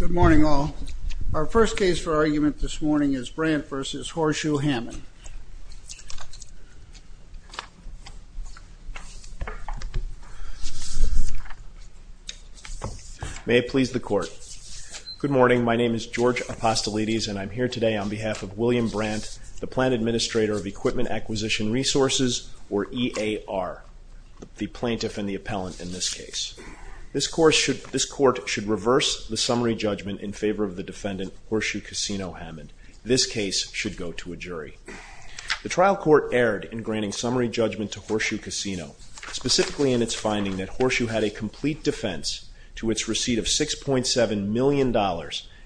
Good morning, all. Our first case for argument this morning is Brandt v. Horseshoe Hammond. May it please the Court. Good morning. My name is George Apostolidis, and I'm here today on behalf of William Brandt, the Plant Administrator of Equipment Acquisition Resources, or EAR, the plaintiff and the appellant in this case. This Court should reverse the summary judgment in favor of the defendant, Horseshoe Casino Hammond. This case should go to a jury. The trial court erred in granting summary judgment to Horseshoe Casino, specifically in its finding that Horseshoe had a complete defense to its receipt of $6.7 million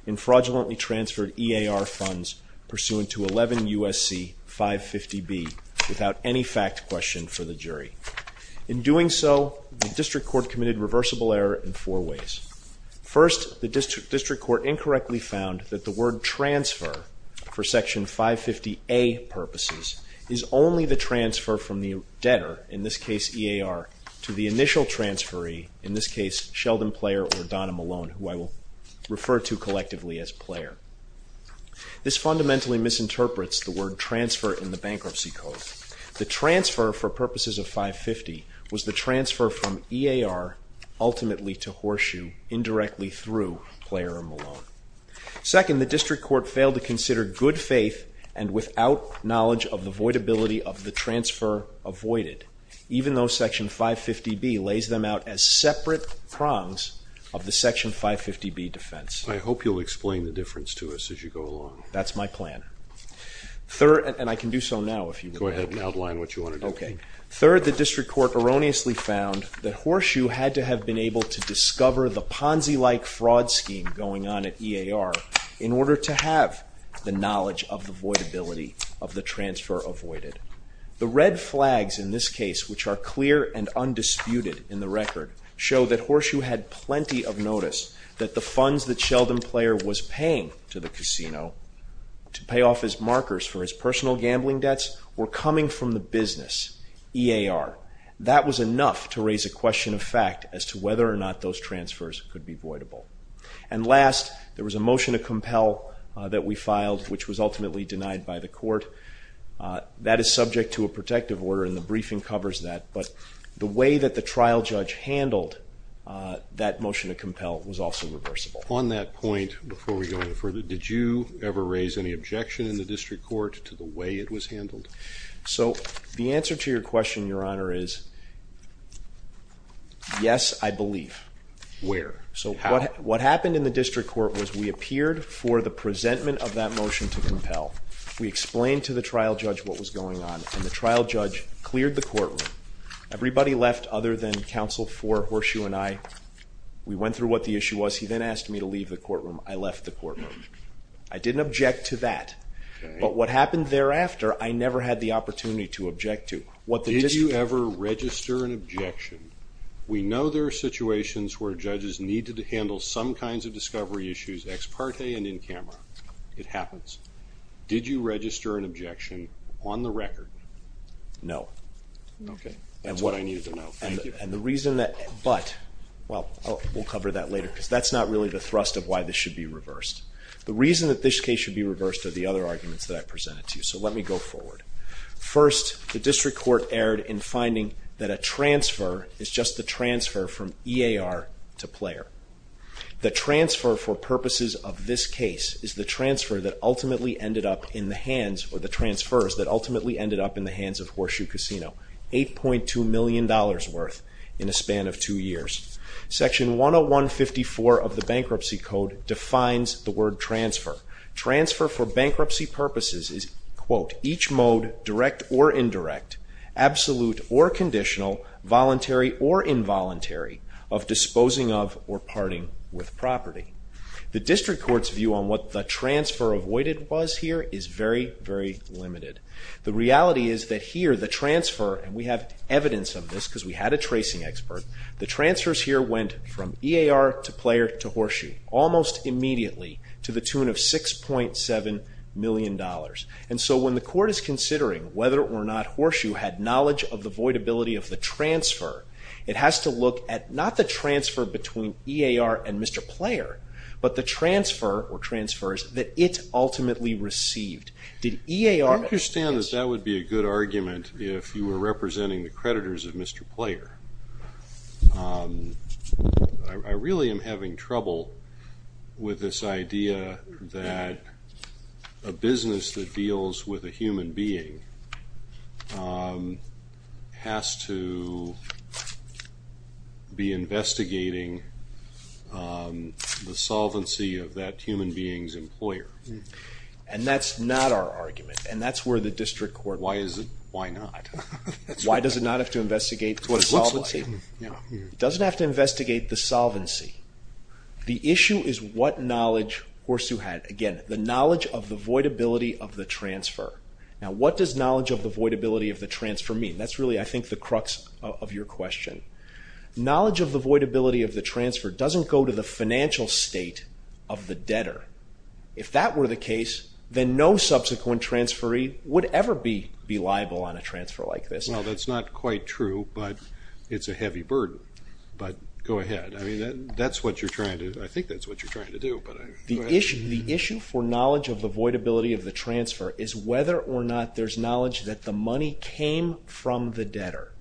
in fraudulently transferred EAR funds pursuant to 11 U.S.C. 550B without any fact question for the jury. In doing so, the district court committed reversible error in four ways. First, the district court incorrectly found that the word transfer for Section 550A purposes is only the transfer from the debtor, in this case EAR, to the initial transferee, in this case Sheldon Player or Donna Malone, who I will refer to collectively as Player. This fundamentally misinterprets the word transfer in the Bankruptcy Code. The transfer for purposes of 550 was the transfer from EAR ultimately to Horseshoe indirectly through Player or Malone. Second, the district court failed to consider good faith and without knowledge of the voidability of the transfer avoided, even though Section 550B lays them out as separate prongs of the Section 550B defense. I hope you'll explain the difference to us as you go along. That's my plan. And I can do so now if you want. Go ahead and outline what you want to do. Third, the district court erroneously found that Horseshoe had to have been able to discover the Ponzi-like fraud scheme going on at EAR in order to have the knowledge of the voidability of the transfer avoided. The red flags in this case, which are clear and undisputed in the record, show that Horseshoe had plenty of notice that the funds that Sheldon Player was paying to the casino to pay off his markers for his personal gambling debts were coming from the business, EAR. That was enough to raise a question of fact as to whether or not those transfers could be voidable. And last, there was a motion to compel that we filed, which was ultimately denied by the court. That is subject to a protective order and the briefing covers that, but the way that the trial judge handled that motion to compel was also reversible. On that point, before we go any further, did you ever raise any objection in the district court to the way it was handled? So, the answer to your question, Your Honor, is yes, I believe. Where? What happened in the district court was we appeared for the presentment of that motion to compel. We explained to the trial judge what was going on, and the trial judge cleared the courtroom. Everybody left other than counsel for Horseshoe and I. We went through what the issue was. He then asked me to leave the courtroom. I left the courtroom. I didn't object to that, but what happened thereafter, I never had the opportunity to object to. Did you ever register an objection? We know there are situations where judges need to handle some kinds of discovery issues, ex parte and in camera. It happens. Did you register an objection on the record? No. Okay. That's what I needed to know. Thank you. And the reason that, but, well, we'll cover that later because that's not really the thrust of why this should be reversed. The reason that this case should be reversed are the other arguments that I presented to you, so let me go forward. First, the district court erred in finding that a transfer is just the transfer from EAR to player. The transfer for purposes of this case is the transfer that ultimately ended up in the hands, or the transfers that ultimately ended up in the hands of Horseshoe Casino, $8.2 million worth in a span of two years. Section 101.54 of the Bankruptcy Code defines the word transfer. Transfer for bankruptcy purposes is, quote, each mode, direct or indirect, absolute or conditional, voluntary or involuntary, of disposing of or parting with property. The district court's view on what the transfer avoided was here is very, very limited. The reality is that here the transfer, and we have evidence of this because we had a tracing expert, the transfers here went from EAR to player to Horseshoe almost immediately to the tune of $6.7 million. And so when the court is considering whether or not Horseshoe had knowledge of the voidability of the transfer, it has to look at not the transfer between EAR and Mr. Player, but the transfer or transfers that it ultimately received. I understand that that would be a good argument if you were representing the creditors of Mr. Player. I really am having trouble with this idea that a business that deals with a human being has to be investigating the solvency of that human being's employer. And that's not our argument, and that's where the district court... Why is it? Why not? Why does it not have to investigate what it looks like? It doesn't have to investigate the solvency. The issue is what knowledge Horseshoe had. Again, the knowledge of the voidability of the transfer. Now, what does knowledge of the voidability of the transfer mean? That's really, I think, the crux of your question. Knowledge of the voidability of the transfer doesn't go to the financial state of the debtor. If that were the case, then no subsequent transferee would ever be liable on a transfer like this. Well, that's not quite true, but it's a heavy burden. But go ahead. I think that's what you're trying to do. The issue for knowledge of the voidability of the transfer is whether or not there's knowledge that the money came from the debtor.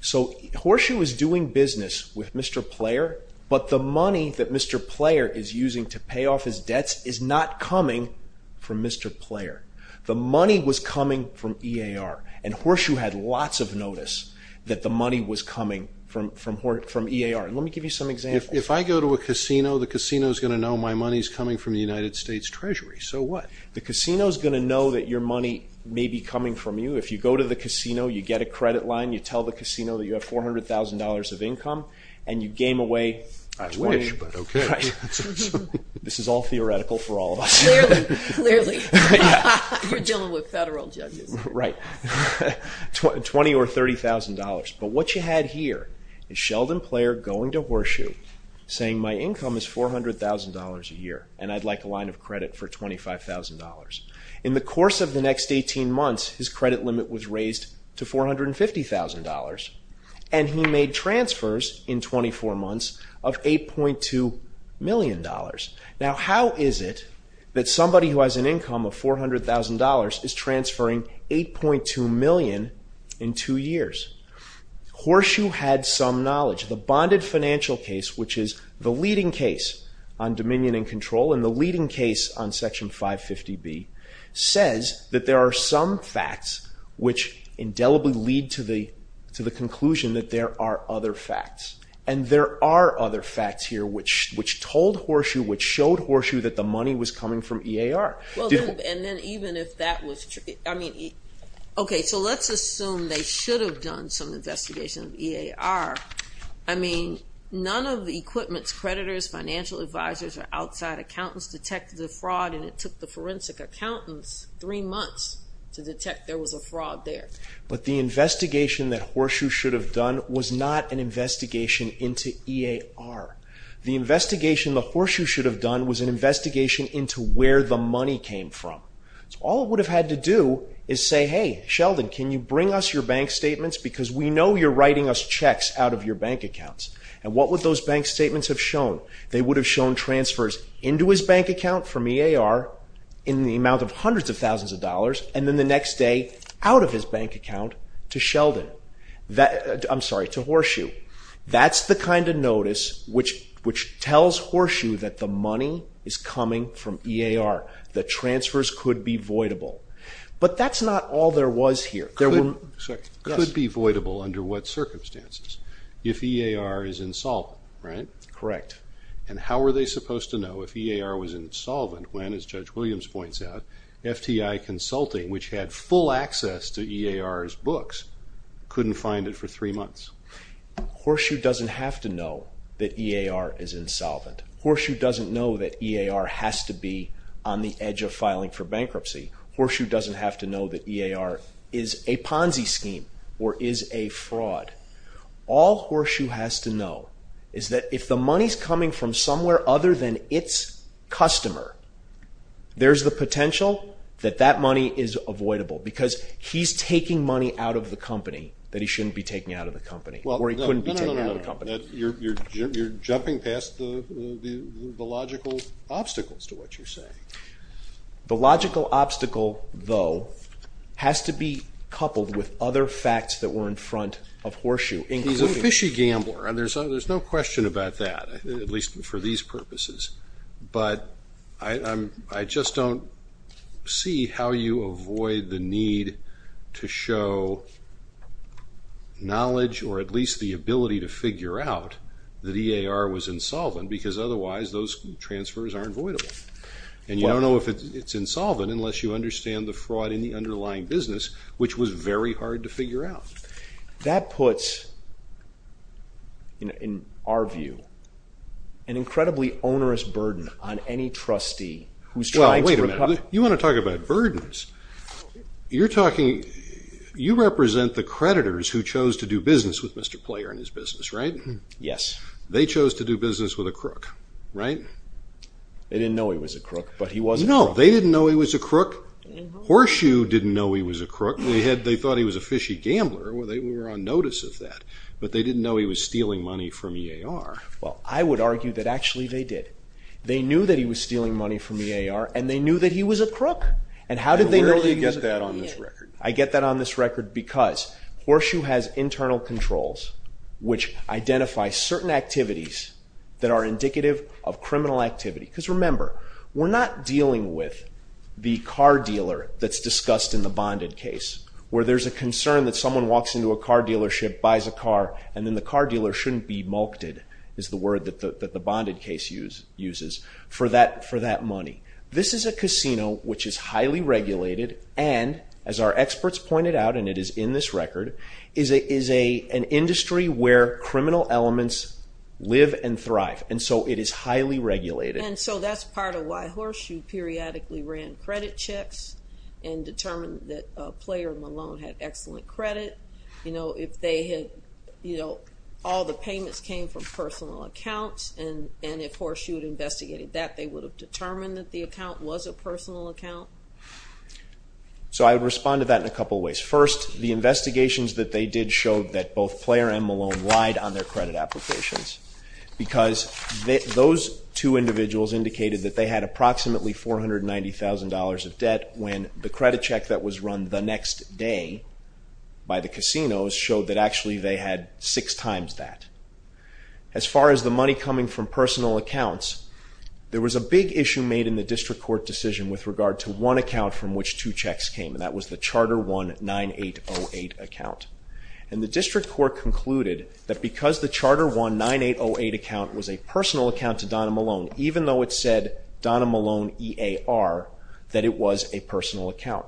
So Horseshoe is doing business with Mr. Player, but the money that Mr. Player is using to pay off his debts is not coming from Mr. Player. The money was coming from EAR, and Horseshoe had lots of notice that the money was coming from EAR. Let me give you some examples. If I go to a casino, the casino's going to know my money's coming from the United States Treasury. So what? The casino's going to know that your money may be coming from you. If you go to the casino, you get a credit line, you tell the casino that you have $400,000 of income, and you game away $20,000. I wish, but okay. This is all theoretical for all of us. Clearly, clearly. You're dealing with federal judges. Right. $20,000 or $30,000. But what you had here is Sheldon Player going to Horseshoe saying, My income is $400,000 a year, and I'd like a line of credit for $25,000. In the course of the next 18 months, his credit limit was raised to $450,000, and he made transfers in 24 months of $8.2 million. Now, how is it that somebody who has an income of $400,000 is transferring $8.2 million in two years? Horseshoe had some knowledge. The bonded financial case, which is the leading case on dominion and control and the leading case on Section 550B, says that there are some facts which indelibly lead to the conclusion that there are other facts, and there are other facts here which told Horseshoe, which showed Horseshoe that the money was coming from EAR. Well, and then even if that was true, I mean, okay, so let's assume they should have done some investigation of EAR. I mean, none of the equipment's creditors, financial advisors, or outside accountants detected the fraud, and it took the forensic accountants three months to detect there was a fraud there. But the investigation that Horseshoe should have done was not an investigation into EAR. The investigation that Horseshoe should have done was an investigation into where the money came from. So all it would have had to do is say, hey, Sheldon, can you bring us your bank statements? Because we know you're writing us checks out of your bank accounts. And what would those bank statements have shown? They would have shown transfers into his bank account from EAR in the amount of hundreds of thousands of dollars, and then the next day out of his bank account to Horseshoe. That's the kind of notice which tells Horseshoe that the money is coming from EAR, that transfers could be voidable. But that's not all there was here. Could be voidable under what circumstances? If EAR is insolvent, right? Correct. And how were they supposed to know if EAR was insolvent when, as Judge Williams points out, FTI Consulting, which had full access to EAR's books, couldn't find it for three months? Horseshoe doesn't have to know that EAR is insolvent. Horseshoe doesn't know that EAR has to be on the edge of filing for bankruptcy. Horseshoe doesn't have to know that EAR is a Ponzi scheme or is a fraud. All Horseshoe has to know is that if the money's coming from somewhere other than its customer, there's the potential that that money is avoidable because he's taking money out of the company that he shouldn't be taking out of the company or he couldn't be taking out of the company. You're jumping past the logical obstacles to what you're saying. The logical obstacle, though, has to be coupled with other facts that were in front of Horseshoe. He's a fishy gambler, and there's no question about that, at least for these purposes. But I just don't see how you avoid the need to show knowledge or at least the ability to figure out that EAR was insolvent because otherwise those transfers aren't avoidable. And you don't know if it's insolvent unless you understand the fraud in the underlying business, which was very hard to figure out. That puts, in our view, an incredibly onerous burden on any trustee who's trying to recover. Well, wait a minute. You want to talk about burdens? You represent the creditors who chose to do business with Mr. Player and his business, right? Yes. They chose to do business with a crook, right? They didn't know he was a crook, but he was a crook. No, they didn't know he was a crook. Horseshoe didn't know he was a crook. They thought he was a fishy gambler. They were on notice of that. But they didn't know he was stealing money from EAR. Well, I would argue that actually they did. They knew that he was stealing money from EAR, and they knew that he was a crook. And where do you get that on this record? I get that on this record because Horseshoe has internal controls which identify certain activities that are indicative of criminal activity. Because remember, we're not dealing with the car dealer that's discussed in the bonded case where there's a concern that someone walks into a car dealership, buys a car, and then the car dealer shouldn't be mulked, is the word that the bonded case uses, for that money. This is a casino which is highly regulated and, as our experts pointed out, and it is in this record, and so it is highly regulated. And so that's part of why Horseshoe periodically ran credit checks and determined that Player and Malone had excellent credit. You know, if they had, you know, all the payments came from personal accounts and if Horseshoe had investigated that, they would have determined that the account was a personal account. So I would respond to that in a couple ways. First, the investigations that they did showed that both Player and Malone lied on their credit applications because those two individuals indicated that they had approximately $490,000 of debt when the credit check that was run the next day by the casinos showed that actually they had six times that. As far as the money coming from personal accounts, there was a big issue made in the district court decision with regard to one account from which two checks came, and that was the Charter 1-9808 account. And the district court concluded that because the Charter 1-9808 account was a personal account to Donna Malone, even though it said Donna Malone EAR, that it was a personal account.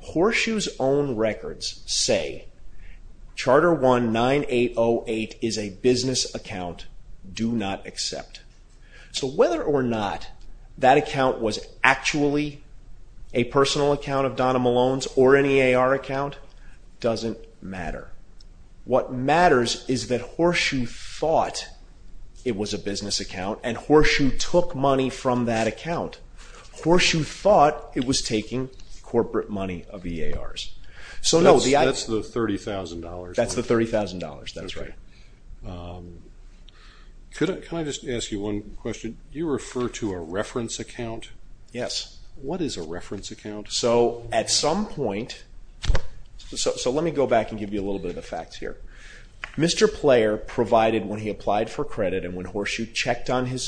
Horseshoe's own records say, Charter 1-9808 is a business account, do not accept. So whether or not that account was actually a personal account of Donna Malone's or an EAR account doesn't matter. What matters is that Horseshoe thought it was a business account, and Horseshoe took money from that account. Horseshoe thought it was taking corporate money of EARs. That's the $30,000. That's the $30,000, that's right. Can I just ask you one question? Do you refer to a reference account? Yes. What is a reference account? So at some point, so let me go back and give you a little bit of the facts here. Mr. Player provided when he applied for credit and when Horseshoe checked on the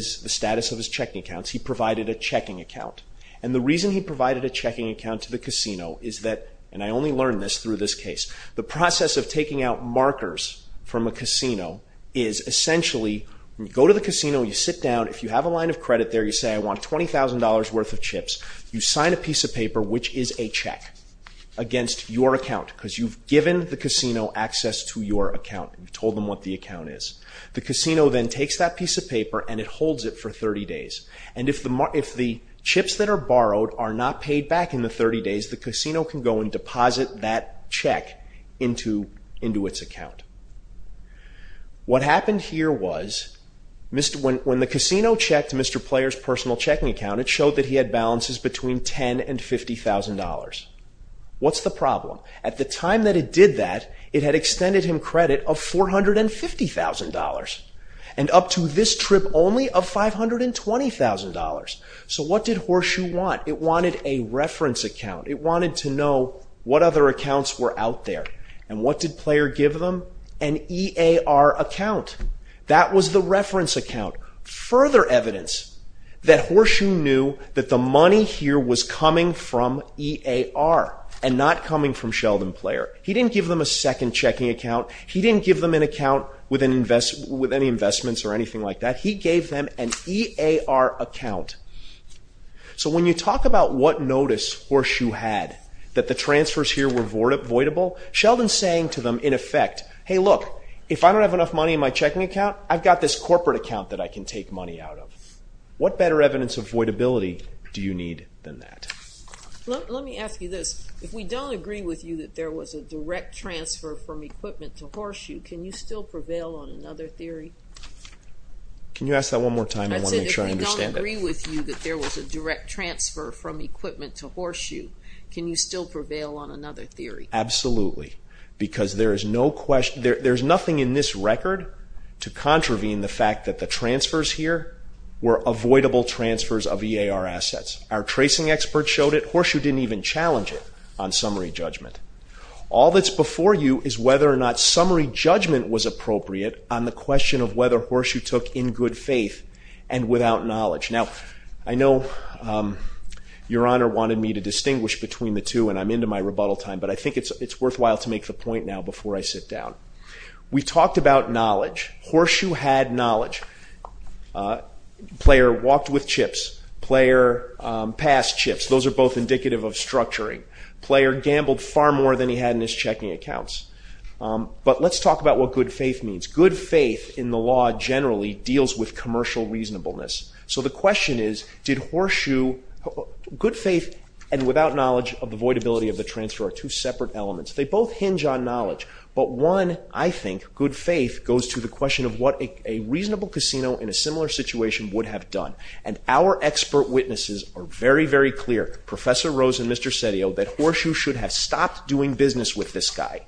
status of his checking accounts, he provided a checking account. And the reason he provided a checking account to the casino is that, and I only learned this through this case, the process of taking out markers from a casino is essentially, you go to the casino, you sit down, if you have a line of credit there, you say I want $20,000 worth of chips. You sign a piece of paper which is a check against your account because you've given the casino access to your account. You've told them what the account is. The casino then takes that piece of paper and it holds it for 30 days. And if the chips that are borrowed are not paid back in the 30 days, the casino can go and deposit that check into its account. What happened here was when the casino checked Mr. Player's personal checking account, it showed that he had balances between $10,000 and $50,000. What's the problem? At the time that it did that, it had extended him credit of $450,000. And up to this trip only of $520,000. So what did Horseshoe want? It wanted a reference account. It wanted to know what other accounts were out there. And what did Player give them? An EAR account. That was the reference account. Further evidence that Horseshoe knew that the money here was coming from EAR and not coming from Sheldon Player. He didn't give them a second checking account. He didn't give them an account with any investments or anything like that. He gave them an EAR account. So when you talk about what notice Horseshoe had, that the transfers here were voidable, Sheldon's saying to them, in effect, Hey, look, if I don't have enough money in my checking account, I've got this corporate account that I can take money out of. What better evidence of voidability do you need than that? Let me ask you this. If we don't agree with you that there was a direct transfer from equipment to Horseshoe, can you still prevail on another theory? Can you ask that one more time? I want to make sure I understand it. I said if we don't agree with you that there was a direct transfer from equipment to Horseshoe, can you still prevail on another theory? Absolutely. Because there's nothing in this record to contravene the fact that the transfers here were avoidable transfers of EAR assets. Our tracing experts showed it. Horseshoe didn't even challenge it on summary judgment. All that's before you is whether or not summary judgment was appropriate on the question of whether Horseshoe took in good faith and without knowledge. Now, I know Your Honor wanted me to distinguish between the two, and I'm into my rebuttal time, but I think it's worthwhile to make the point now before I sit down. We talked about knowledge. Horseshoe had knowledge. Player walked with chips. Player passed chips. Those are both indicative of structuring. Player gambled far more than he had in his checking accounts. But let's talk about what good faith means. Good faith in the law generally deals with commercial reasonableness. So the question is, did Horseshoe... Good faith and without knowledge of the avoidability of the transfer are two separate elements. They both hinge on knowledge. But one, I think, good faith goes to the question of what a reasonable casino in a similar situation would have done. And our expert witnesses are very, very clear, Professor Rose and Mr. Sedillo, that Horseshoe should have stopped doing business with this guy.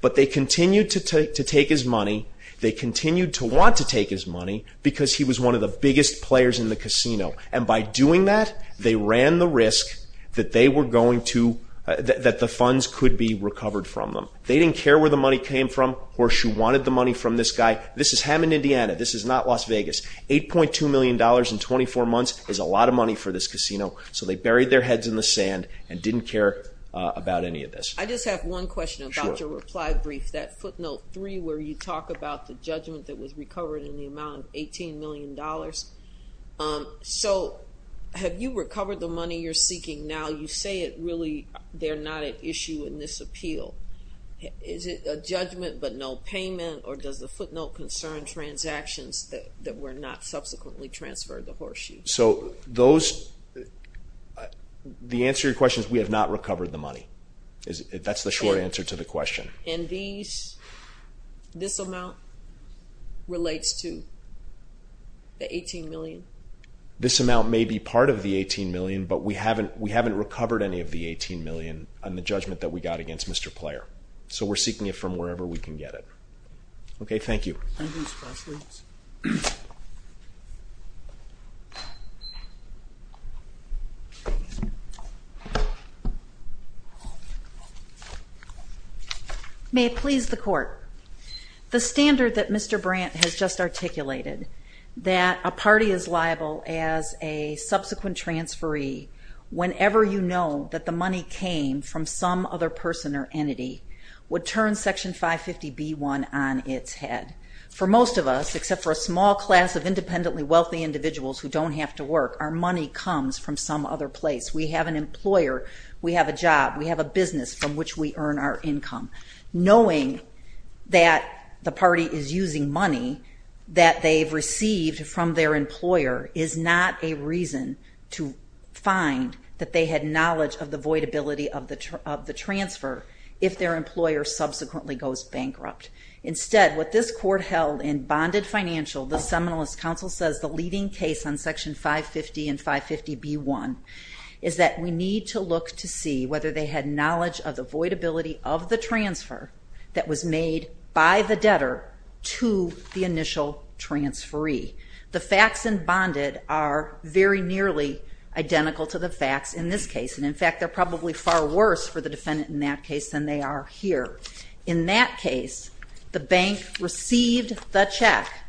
But they continued to take his money. They continued to want to take his money because he was one of the biggest players in the casino. And by doing that, they ran the risk that they were going to... that the funds could be recovered from them. They didn't care where the money came from. Horseshoe wanted the money from this guy. This is Hammond, Indiana. This is not Las Vegas. $8.2 million in 24 months is a lot of money for this casino. So they buried their heads in the sand and didn't care about any of this. I just have one question about your reply brief, that footnote 3, where you talk about the judgment that was recovered in the amount of $18 million. So have you recovered the money you're seeking now? You say it really, they're not at issue in this appeal. Is it a judgment but no payment, or does the footnote concern transactions that were not subsequently transferred to Horseshoe? So those... The answer to your question is we have not recovered the money. That's the short answer to the question. And this amount relates to the $18 million? This amount may be part of the $18 million, but we haven't recovered any of the $18 million on the judgment that we got against Mr. Player. So we're seeking it from wherever we can get it. Okay, thank you. May it please the Court. The standard that Mr. Brandt has just articulated, that a party is liable as a subsequent transferee whenever you know that the money came from some other person or entity, would turn Section 550b1 on its head. For most of us, except for a small class of independently wealthy individuals who don't have to work, our money comes from some other place. We have an employer, we have a job, we have a business from which we earn our income. Knowing that the party is using money that they've received from their employer is not a reason to find that they had knowledge of the voidability of the transfer if their employer subsequently goes bankrupt. Instead, what this Court held in Bonded Financial, the Seminalist Council says the leading case on Section 550 and 550b1 is that we need to look to see whether they had knowledge of the voidability of the transfer that was made by the debtor to the initial transferee. The facts in Bonded are very nearly identical to the facts in this case. In fact, they're probably far worse for the defendant in that case than they are here. In that case, the bank received the check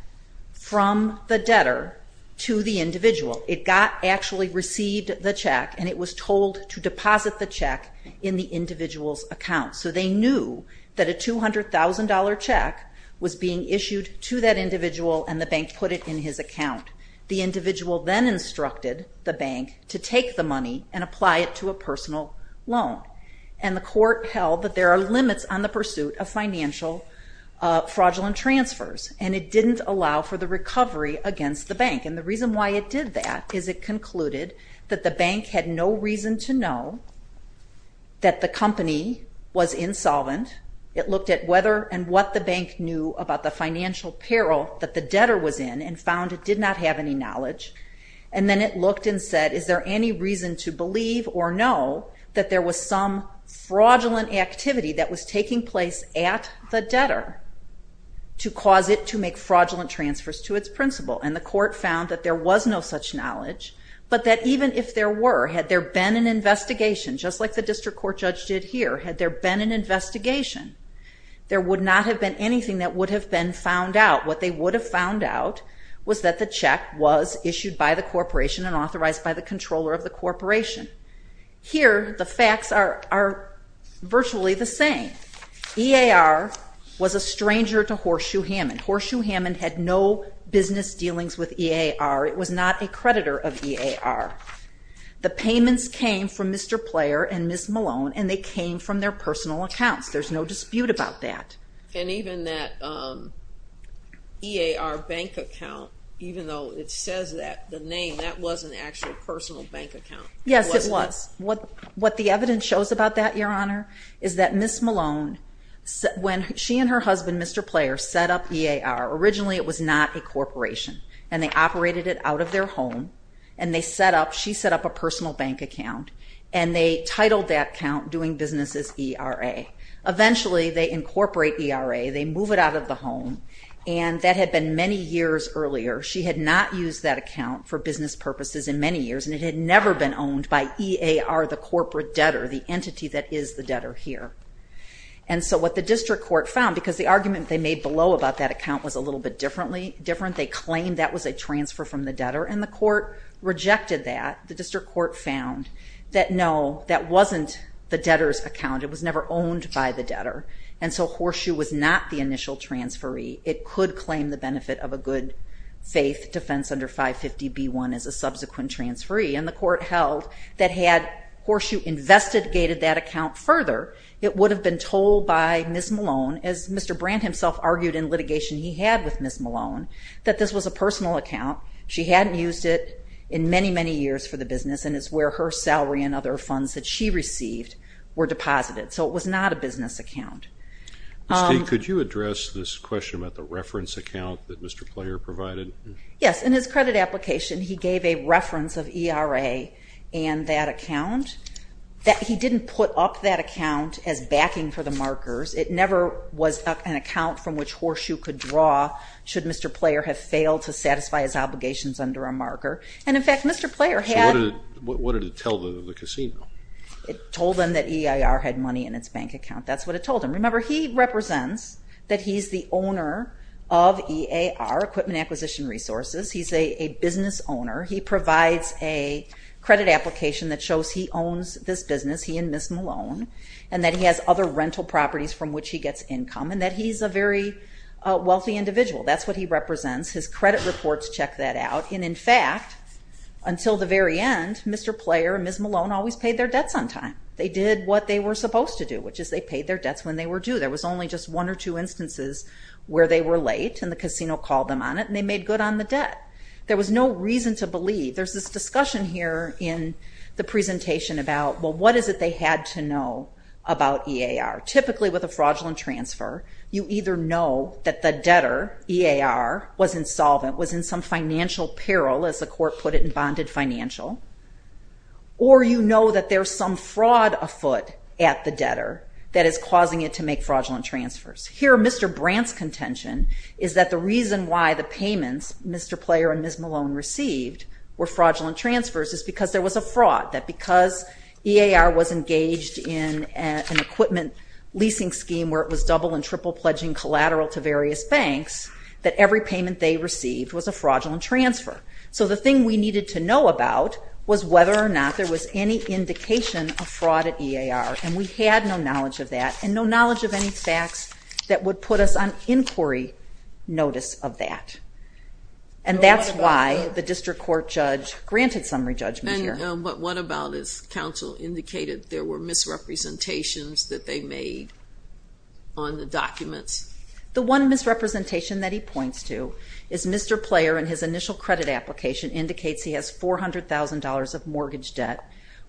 from the debtor to the individual. It actually received the check and it was told to deposit the check in the individual's account. So they knew that a $200,000 check was being issued to that individual and the bank put it in his account. The individual then instructed the bank to take the money and apply it to a personal loan. And the Court held that there are limits on the pursuit of financial fraudulent transfers and it didn't allow for the recovery against the bank. And the reason why it did that is it concluded that the bank had no reason to know that the company was insolvent. It looked at whether and what the bank knew about the financial peril that the debtor was in and found it did not have any knowledge. And then it looked and said, is there any reason to believe or know that there was some fraudulent activity that was taking place at the debtor to cause it to make fraudulent transfers to its principal? And the Court found that there was no such knowledge but that even if there were, had there been an investigation, just like the District Court judge did here, had there been an investigation, there would not have been anything that would have been found out. What they would have found out was that the check was issued by the corporation and authorized by the controller of the corporation. Here, the facts are virtually the same. EAR was a stranger to Horseshoe Hammond. Horseshoe Hammond had no business dealings with EAR. It was not a creditor of EAR. The payments came from Mr. Player and Ms. Malone and they came from their personal accounts. There's no dispute about that. And even that EAR bank account, even though it says that, the name, that wasn't actually a personal bank account. Yes, it was. What the evidence shows about that, Your Honor, is that Ms. Malone, when she and her husband, Mr. Player, set up EAR, originally it was not a corporation and they operated it out of their home and they set up, she set up a personal bank account and they titled that account, Doing Businesses ERA. Eventually, they incorporate ERA, they move it out of the home and that had been many years earlier. She had not used that account for business purposes in many years and it had never been owned by EAR, the corporate debtor, the entity that is the debtor here. And so what the district court found, because the argument they made below about that account was a little bit different, they claimed that was a transfer from the debtor and the court rejected that. The district court found that no, that wasn't the debtor's account. It was never owned by the debtor. And so Horseshoe was not the initial transferee. It could claim the benefit of a good faith defense under 550b1 as a subsequent transferee. And the court held that had Horseshoe investigated that account further, it would have been told by Ms. Malone, as Mr. Brandt himself argued in litigation he had with Ms. Malone, that this was a personal account. She hadn't used it in many, many years for the business and it's where her salary and other funds that she received were deposited. So it was not a business account. Steve, could you address this question about the reference account that Mr. Player provided? Yes, in his credit application he gave a reference of ERA and that account. He didn't put up that account as backing for the markers. It never was an account from which Horseshoe could draw should Mr. Player have failed to satisfy his obligations under a marker. And in fact, Mr. Player had... So what did it tell the casino? It told them that EIR had money in its bank account. That's what it told them. Remember, he represents that he's the owner of EAR, Equipment Acquisition Resources. He's a business owner. He provides a credit application that shows he owns this business, he and Ms. Malone, and that he has other rental properties from which he gets income, and that he's a very wealthy individual. That's what he represents. His credit reports check that out. And in fact, until the very end, Mr. Player and Ms. Malone always paid their debts on time. They did what they were supposed to do, which is they paid their debts when they were due. There was only just one or two instances where they were late and the casino called them on it and they made good on the debt. There was no reason to believe... There's this discussion here in the presentation about, well, what is it they had to know about EAR? Typically, with a fraudulent transfer, you either know that the debtor, EAR, was insolvent, was in some financial peril, as the court put it in bonded financial, or you know that there's some fraud afoot at the debtor that is causing it to make fraudulent transfers. Here, Mr. Brandt's contention is that the reason why the payments were fraudulent transfers is because there was a fraud, that because EAR was engaged in an equipment leasing scheme where it was double and triple pledging collateral to various banks, that every payment they received was a fraudulent transfer. So the thing we needed to know about was whether or not there was any indication of fraud at EAR, and we had no knowledge of that, and no knowledge of any facts that would put us on inquiry notice of that. And that's why the district court judge granted summary judgment here. And what about if counsel indicated there were misrepresentations that they made on the documents? The one misrepresentation that he points to is Mr. Player in his initial credit application indicates he has $400,000 of mortgage debt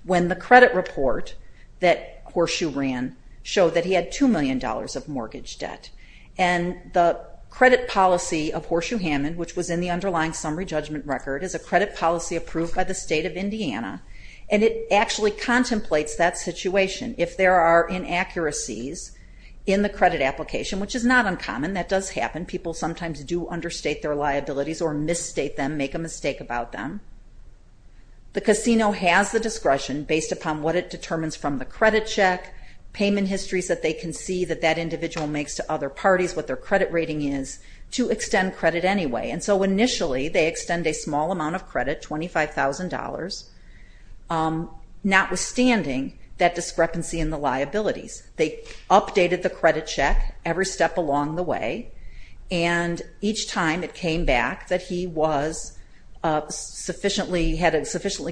when the credit report that Horseshoe ran showed that he had $2 million of mortgage debt. And the credit policy of Horseshoe Hammond, which was in the underlying summary judgment record, is a credit policy approved by the state of Indiana, and it actually contemplates that situation. If there are inaccuracies in the credit application, which is not uncommon, that does happen. People sometimes do understate their liabilities or misstate them, make a mistake about them. The casino has the discretion, based upon what it determines from the credit check, payment histories that they can see that that individual makes to other parties, what their credit rating is, to extend credit anyway. And so initially, they extend a small amount of credit, $25,000, notwithstanding that discrepancy in the liabilities. They updated the credit check every step along the way, and each time it came back that he had a sufficiently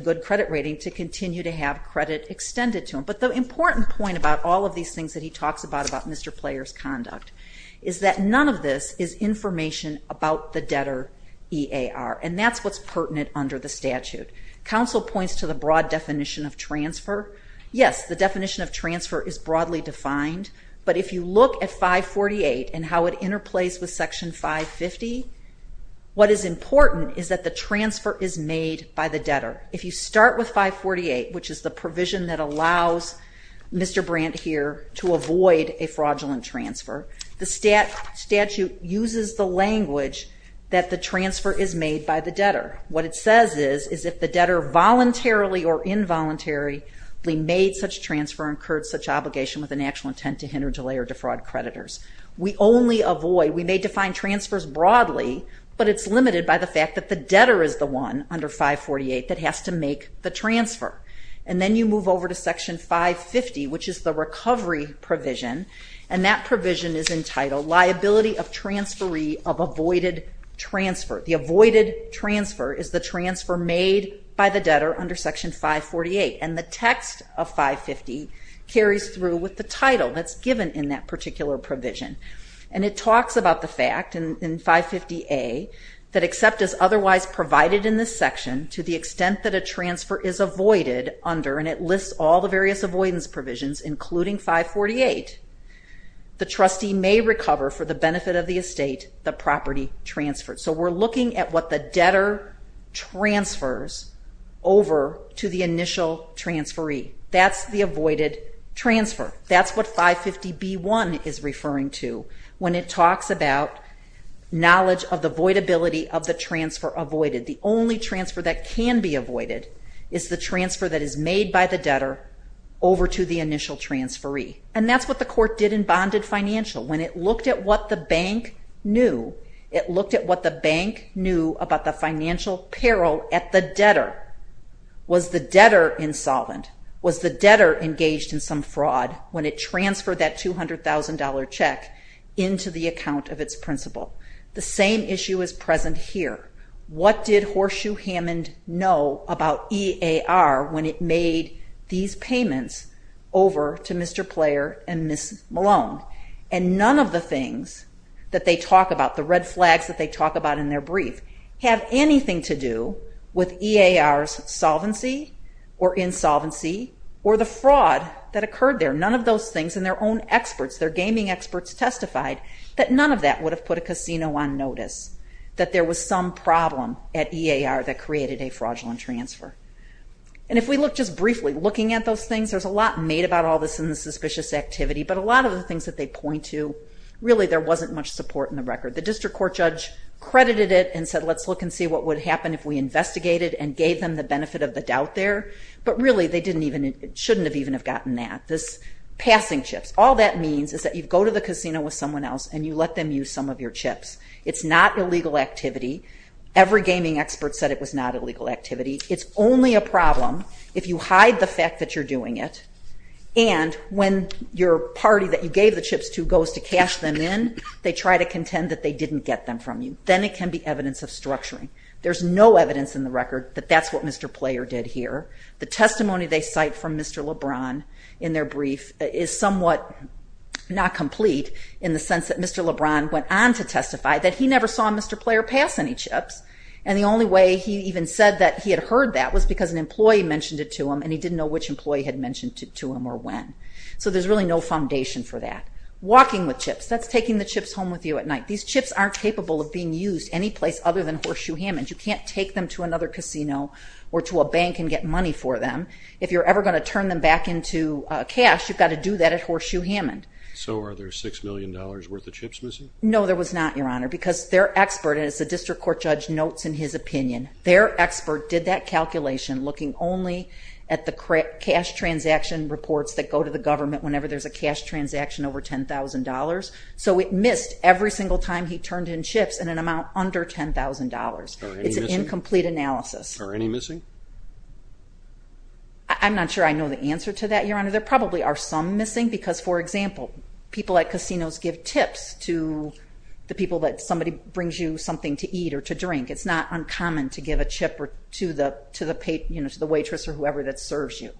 good credit rating to continue to have credit extended to him. But the important point about all of these things that he talks about about Mr. Player's conduct is that none of this is information about the debtor EAR, and that's what's pertinent under the statute. Council points to the broad definition of transfer. Yes, the definition of transfer is broadly defined, but if you look at 548 and how it interplays with Section 550, what is important is that the transfer is made by the debtor. If you start with 548, which is the provision that allows Mr. Brandt here to avoid a fraudulent transfer, the statute uses the language that the transfer is made by the debtor. What it says is, is if the debtor voluntarily or involuntarily made such transfer and incurred such obligation with an actual intent to hinder, delay, or defraud creditors. We only avoid, we may define transfers broadly, but it's limited by the fact that the debtor is the one under 548 that has to make the transfer. And then you move over to Section 550, which is the recovery provision, and that provision is entitled Liability of Transferee of Avoided Transfer. The avoided transfer is the transfer made by the debtor under Section 548. And the text of 550 carries through with the title that's given in that particular provision. And it talks about the fact in 550A that except as otherwise provided in this section to the extent that a transfer is avoided under, and it lists all the various avoidance provisions, including 548, the trustee may recover for the benefit of the estate the property transferred. So we're looking at what the debtor transfers over to the initial transferee. That's the avoided transfer. That's what 550B1 is referring to when it talks about knowledge of the avoidability of the transfer avoided. The only transfer that can be avoided is the transfer that is made by the debtor over to the initial transferee. And that's what the court did in bonded financial. When it looked at what the bank knew, it looked at what the bank knew about the financial peril at the debtor. Was the debtor insolvent? Was the debtor engaged in some fraud when it transferred that $200,000 check into the account of its principal? The same issue is present here. What did Horseshoe Hammond know about EAR when it made these payments over to Mr. Player and Ms. Malone? And none of the things that they talk about, the red flags that they talk about in their brief, have anything to do with EAR's solvency or insolvency or the fraud that occurred there. None of those things, and their own experts, their gaming experts testified that none of that would have put a casino on notice, that there was some problem at EAR that created a fraudulent transfer. And if we look just briefly, looking at those things, there's a lot made about all this in the suspicious activity, but a lot of the things that they point to, really there wasn't much support in the record. The district court judge credited it and said, let's look and see what would happen if we investigated and gave them the benefit of the doubt there, but really they shouldn't have even have gotten that. This passing chips, all that means is that you go to the casino with someone else and you let them use some of your chips. It's not illegal activity. Every gaming expert said it was not illegal activity. It's only a problem if you hide the fact that you're doing it and when your party that you gave the chips to goes to cash them in, they try to contend that they didn't get them from you. Then it can be evidence of structuring. There's no evidence in the record that that's what Mr. Player did here. The testimony they cite from Mr. LeBron in their brief is somewhat not complete in the sense that Mr. LeBron went on to testify that he never saw Mr. Player pass any chips and the only way he even said that he had heard that was because an employee mentioned it to him and he didn't know which employee had mentioned it to him or when. So there's really no foundation for that. Walking with chips, that's taking the chips home with you at night. These chips aren't capable of being used any place other than Horseshoe Hammond. You can't take them to another casino or to a bank and get money for them. If you're ever going to turn them back into cash, you've got to do that at Horseshoe Hammond. So are there $6 million worth of chips missing? No, there was not, Your Honor, because their expert, as the district court judge notes in his opinion, their expert did that calculation looking only at the cash transaction reports that go to the government whenever there's a cash transaction over $10,000. So it missed every single time he turned in chips in an amount under $10,000. It's an incomplete analysis. Are any missing? I'm not sure I know the answer to that, Your Honor. There probably are some missing because, for example, people at casinos give tips to the people that somebody brings you something to eat or to drink. It's not uncommon to give a chip to the waitress or whoever that serves you.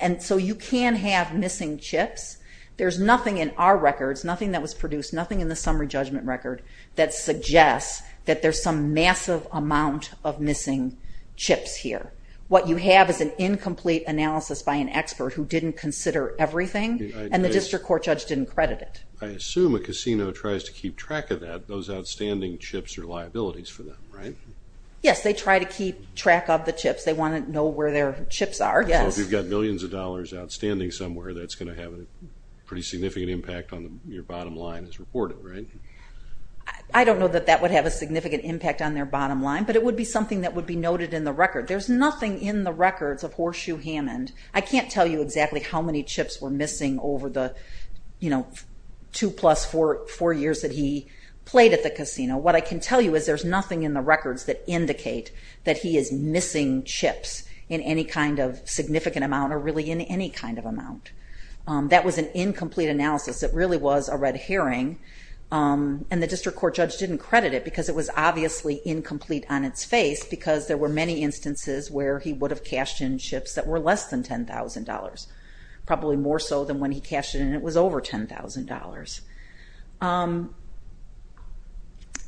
And so you can have missing chips. There's nothing in our records, nothing that was produced, nothing in the summary judgment record that suggests that there's some massive amount of missing chips here. What you have is an incomplete analysis by an expert who didn't consider everything, and the district court judge didn't credit it. I assume a casino tries to keep track of that. Those outstanding chips are liabilities for them, right? Yes, they try to keep track of the chips. They want to know where their chips are, yes. So if you've got millions of dollars outstanding somewhere, that's going to have a pretty significant impact on your bottom line as reported, right? I don't know that that would have a significant impact on their bottom line, but it would be something that would be noted in the record. There's nothing in the records of Horseshoe Hammond. I can't tell you exactly how many chips were missing over the, you know, 2 plus 4 years that he played at the casino. What I can tell you is there's nothing in the records that indicate that he is missing chips in any kind of significant amount or really in any kind of amount. That was an incomplete analysis. It really was a red herring, and the district court judge didn't credit it because it was obviously incomplete on its face because there were many instances where he would have cashed in chips that were less than $10,000, probably more so than when he cashed in and it was over $10,000.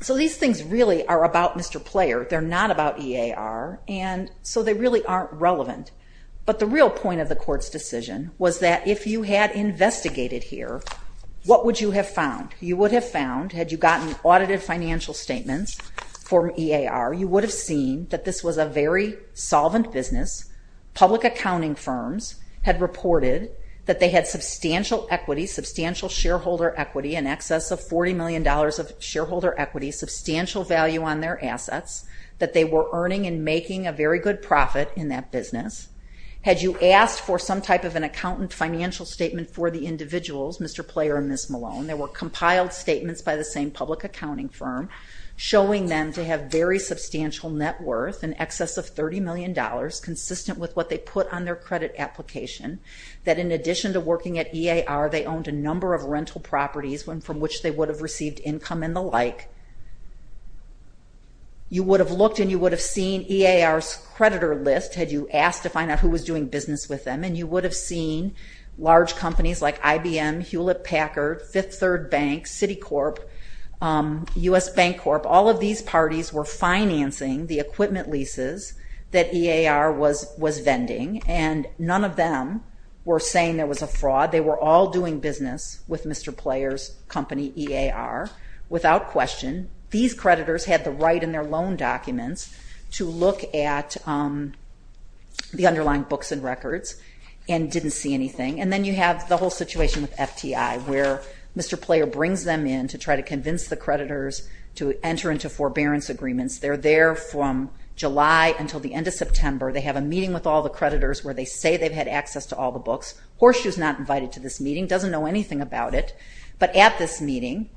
So these things really are about Mr. Player. They're not about EAR, and so they really aren't relevant. But the real point of the court's decision was that if you had investigated here, what would you have found? You would have found, had you gotten audited financial statements for EAR, you would have seen that this was a very solvent business. Public accounting firms had reported that they had substantial equity, substantial shareholder equity, in excess of $40 million of shareholder equity, substantial value on their assets, that they were earning and making a very good profit in that business. Had you asked for some type of an accountant financial statement for the individuals, Mr. Player and Ms. Malone, there were compiled statements by the same public accounting firm showing them to have very substantial net worth in excess of $30 million, consistent with what they put on their credit application, that in addition to working at EAR, they owned a number of rental properties from which they would have received income and the like. You would have looked and you would have seen EAR's creditor list, had you asked to find out who was doing business with them, and you would have seen large companies like IBM, Hewlett-Packard, Fifth Third Bank, Citicorp, U.S. Bank Corp., all of these parties were financing the equipment leases that EAR was vending, and none of them were saying there was a fraud. They were all doing business with Mr. Player's company, EAR. Without question, these creditors had the right in their loan documents to look at the underlying books and records and didn't see anything. And then you have the whole situation with FTI, where Mr. Player brings them in to try to convince the creditors to enter into forbearance agreements. They're there from July until the end of September. They have a meeting with all the creditors where they say they've had access to all the books. Horseshoe's not invited to this meeting, doesn't know anything about it. But at this meeting,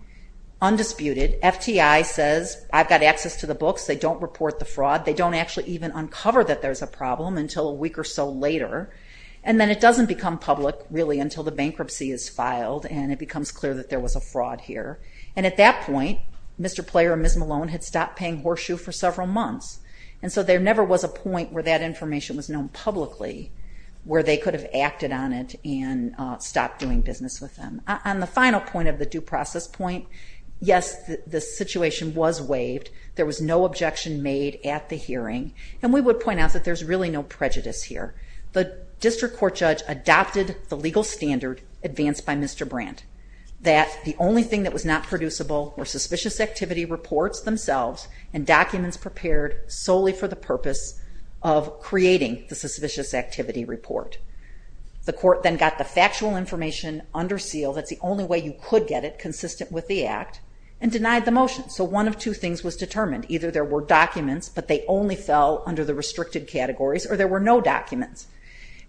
undisputed, FTI says, I've got access to the books. They don't report the fraud. They don't actually even uncover that there's a problem until a week or so later. And then it doesn't become public, really, until the bankruptcy is filed, and it becomes clear that there was a fraud here. And at that point, Mr. Player and Ms. Malone had stopped paying Horseshoe for several months. And so there never was a point where that information was known publicly, where they could have acted on it and stopped doing business with them. On the final point of the due process point, yes, the situation was waived. There was no objection made at the hearing. And we would point out that there's really no prejudice here. The district court judge adopted the legal standard advanced by Mr. Brandt, that the only thing that was not producible were suspicious activity reports themselves and documents prepared solely for the purpose of creating the suspicious activity report. The court then got the factual information under seal. That's the only way you could get it, consistent with the Act, and denied the motion. So one of two things was determined. Either there were documents, but they only fell under the restricted categories, or there were no documents.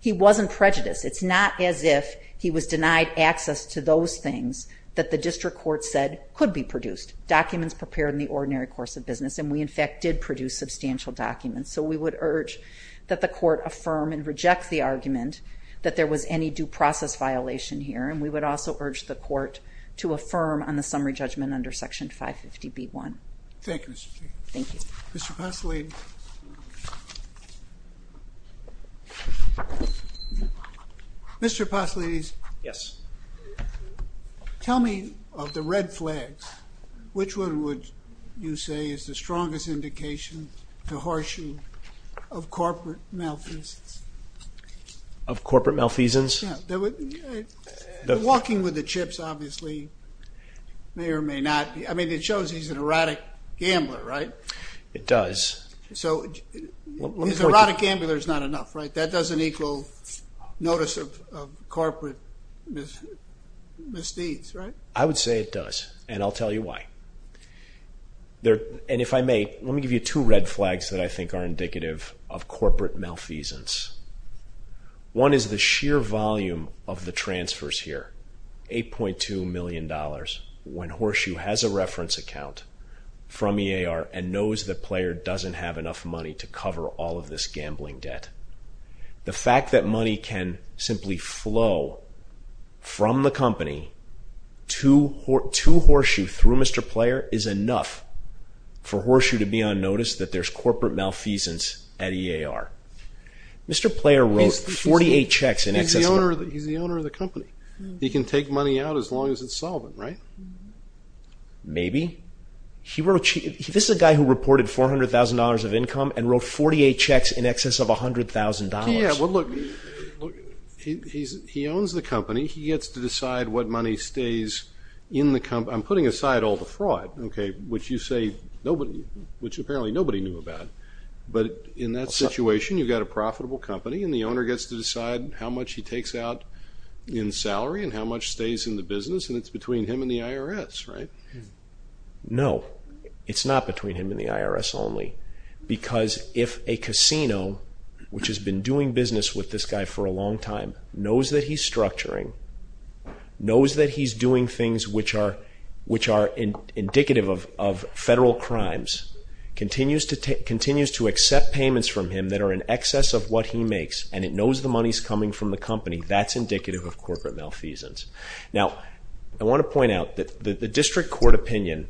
He wasn't prejudiced. It's not as if he was denied access to those things that the district court said could be produced. Documents prepared in the ordinary course of business. And we, in fact, did produce substantial documents. So we would urge that the court affirm and reject the argument that there was any due process violation here. And we would also urge the court to affirm on the summary judgment under Section 550B1. Thank you, Mr. Chief. Thank you. Mr. Pasolidis. Mr. Pasolidis. Yes. Tell me of the red flags, which one would you say is the strongest indication to harshen of corporate malfeasance? Of corporate malfeasance? Yeah. The walking with the chips, obviously, may or may not be. I mean, it shows he's an erotic gambler, right? It does. So his erotic gambler is not enough, right? That doesn't equal notice of corporate misdeeds, right? I would say it does, and I'll tell you why. And if I may, let me give you two red flags that I think are indicative of corporate malfeasance. One is the sheer volume of the transfers here, $8.2 million, when Horseshoe has a reference account from EAR and knows the player doesn't have enough money to cover all of this gambling debt. The fact that money can simply flow from the company to Horseshoe through Mr. Player is enough for Horseshoe to be on notice that there's corporate malfeasance at EAR. Mr. Player wrote 48 checks in excess of that. He's the owner of the company. He can take money out as long as it's solvent, right? Maybe. This is a guy who reported $400,000 of income and wrote 48 checks in excess of $100,000. Yeah, well, look, he owns the company. He gets to decide what money stays in the company. I'm putting aside all the fraud, which apparently nobody knew about. But in that situation, you've got a profitable company, and the owner gets to decide how much he takes out in salary and how much stays in the business, and it's between him and the IRS, right? No, it's not between him and the IRS only because if a casino, which has been doing business with this guy for a long time, knows that he's structuring, knows that he's doing things which are indicative of federal crimes, continues to accept payments from him that are in excess of what he makes, and it knows the money's coming from the company, that's indicative of corporate malfeasance. Now, I want to point out that the district court opinion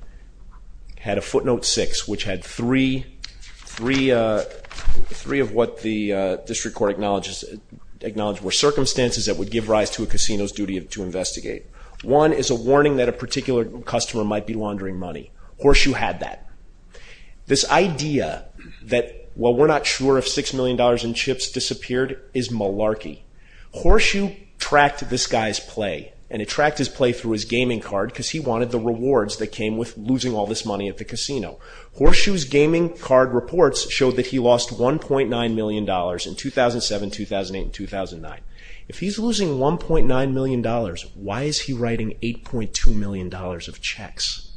had a footnote 6, which had three of what the district court acknowledged were circumstances that would give rise to a casino's duty to investigate. One is a warning that a particular customer might be laundering money. Horseshoe had that. This idea that, well, we're not sure if $6 million in chips disappeared is malarkey. Horseshoe tracked this guy's play, and it tracked his play through his gaming card because he wanted the rewards that came with losing all this money at the casino. Horseshoe's gaming card reports showed that he lost $1.9 million in 2007, 2008, and 2009. If he's losing $1.9 million, why is he writing $8.2 million of checks?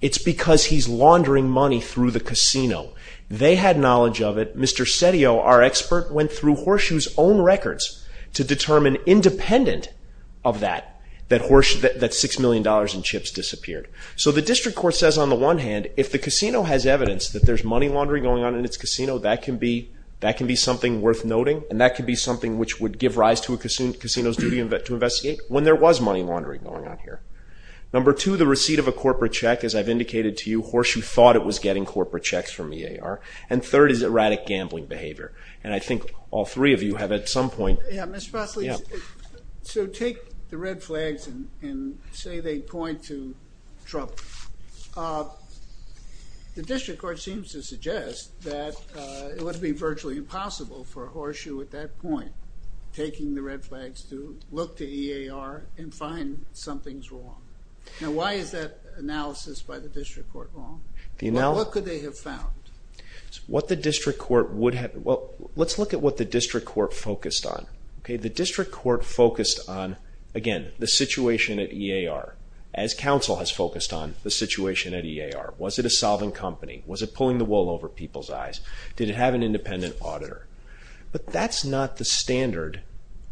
It's because he's laundering money through the casino. They had knowledge of it. Mr. Setio, our expert, went through Horseshoe's own records to determine, independent of that, that $6 million in chips disappeared. So the district court says, on the one hand, if the casino has evidence that there's money laundering going on in its casino, that can be something worth noting, and that can be something which would give rise to a casino's duty to investigate when there was money laundering going on here. Number two, the receipt of a corporate check. As I've indicated to you, Horseshoe thought it was getting corporate checks from EAR. And third is erratic gambling behavior. And I think all three of you have at some point... Yeah, Mr. Fosley, so take the red flags and say they point to trouble. The district court seems to suggest that it would be virtually impossible for Horseshoe, at that point, taking the red flags to look to EAR and find something's wrong. Now, why is that analysis by the district court wrong? What could they have found? What the district court would have... Well, let's look at what the district court focused on. The district court focused on, again, the situation at EAR, as counsel has focused on the situation at EAR. Was it a solvent company? Was it pulling the wool over people's eyes? Did it have an independent auditor? But that's not the standard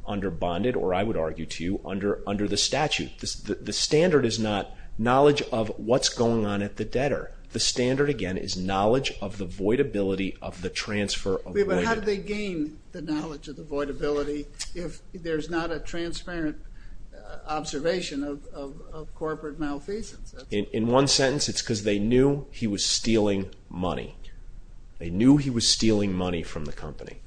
under bonded, or I would argue to you, under the statute. The standard is not knowledge of what's going on at the debtor. The standard, again, is knowledge of the voidability of the transfer of money. But how do they gain the knowledge of the voidability if there's not a transparent observation of corporate malfeasance? In one sentence, it's because they knew he was stealing money. They knew he was stealing money from the company.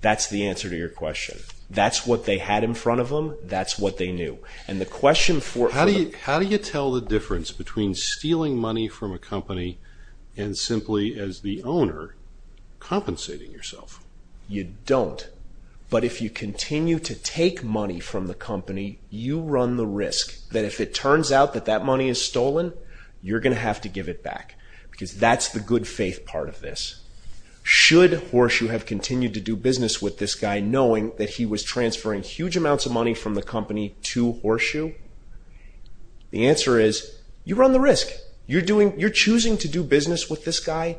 That's the answer to your question. That's what they had in front of them. That's what they knew. How do you tell the difference between stealing money from a company and simply, as the owner, compensating yourself? You don't. But if you continue to take money from the company, you run the risk that if it turns out that that money is stolen, you're going to have to give it back because that's the good faith part of this. Should Horseshoe have continued to do business with this guy knowing that he was transferring huge amounts of money from the company to Horseshoe? The answer is you run the risk. You're choosing to do business with this guy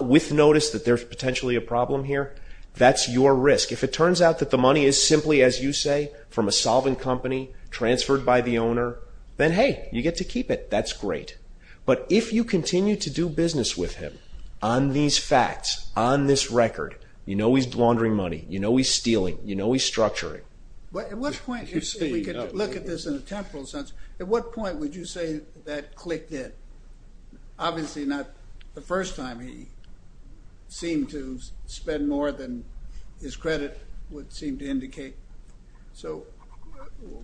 with notice that there's potentially a problem here. That's your risk. If it turns out that the money is simply, as you say, from a solvent company transferred by the owner, then hey, you get to keep it. That's great. But if you continue to do business with him on these facts, on this record, you know he's laundering money, you know he's stealing, you know he's structuring. At what point, if we could look at this in a temporal sense, at what point would you say that clicked in? Obviously not the first time he seemed to spend more than his credit would seem to indicate. So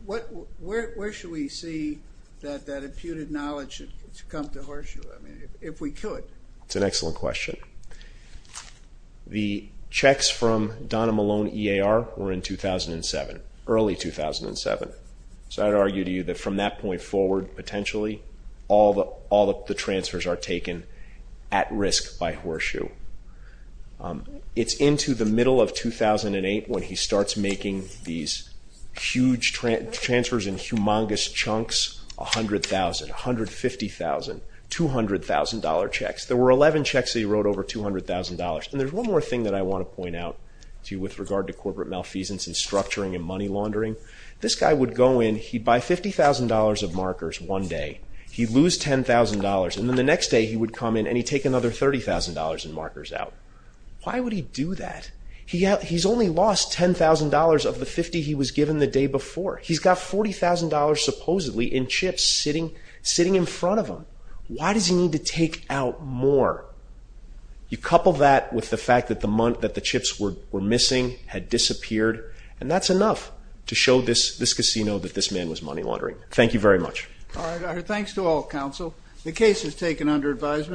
where should we see that imputed knowledge come to Horseshoe, if we could? That's an excellent question. The checks from Donna Malone EAR were in 2007, early 2007. So I'd argue to you that from that point forward, potentially, all the transfers are taken at risk by Horseshoe. It's into the middle of 2008 when he starts making these huge transfers in humongous chunks, $100,000, $150,000, $200,000 checks. There were 11 checks that he wrote over $200,000. And there's one more thing that I want to point out to you with regard to corporate malfeasance and structuring and money laundering. This guy would go in, he'd buy $50,000 of markers one day, he'd lose $10,000, and then the next day he would come in and he'd take another $30,000 in markers out. Why would he do that? He's only lost $10,000 of the $50,000 he was given the day before. He's got $40,000 supposedly in chips sitting in front of him. Why does he need to take out more? You couple that with the fact that the chips were missing, had disappeared, and that's enough to show this casino that this man was money laundering. Thank you very much. All right, thanks to all counsel. The case is taken under advisement.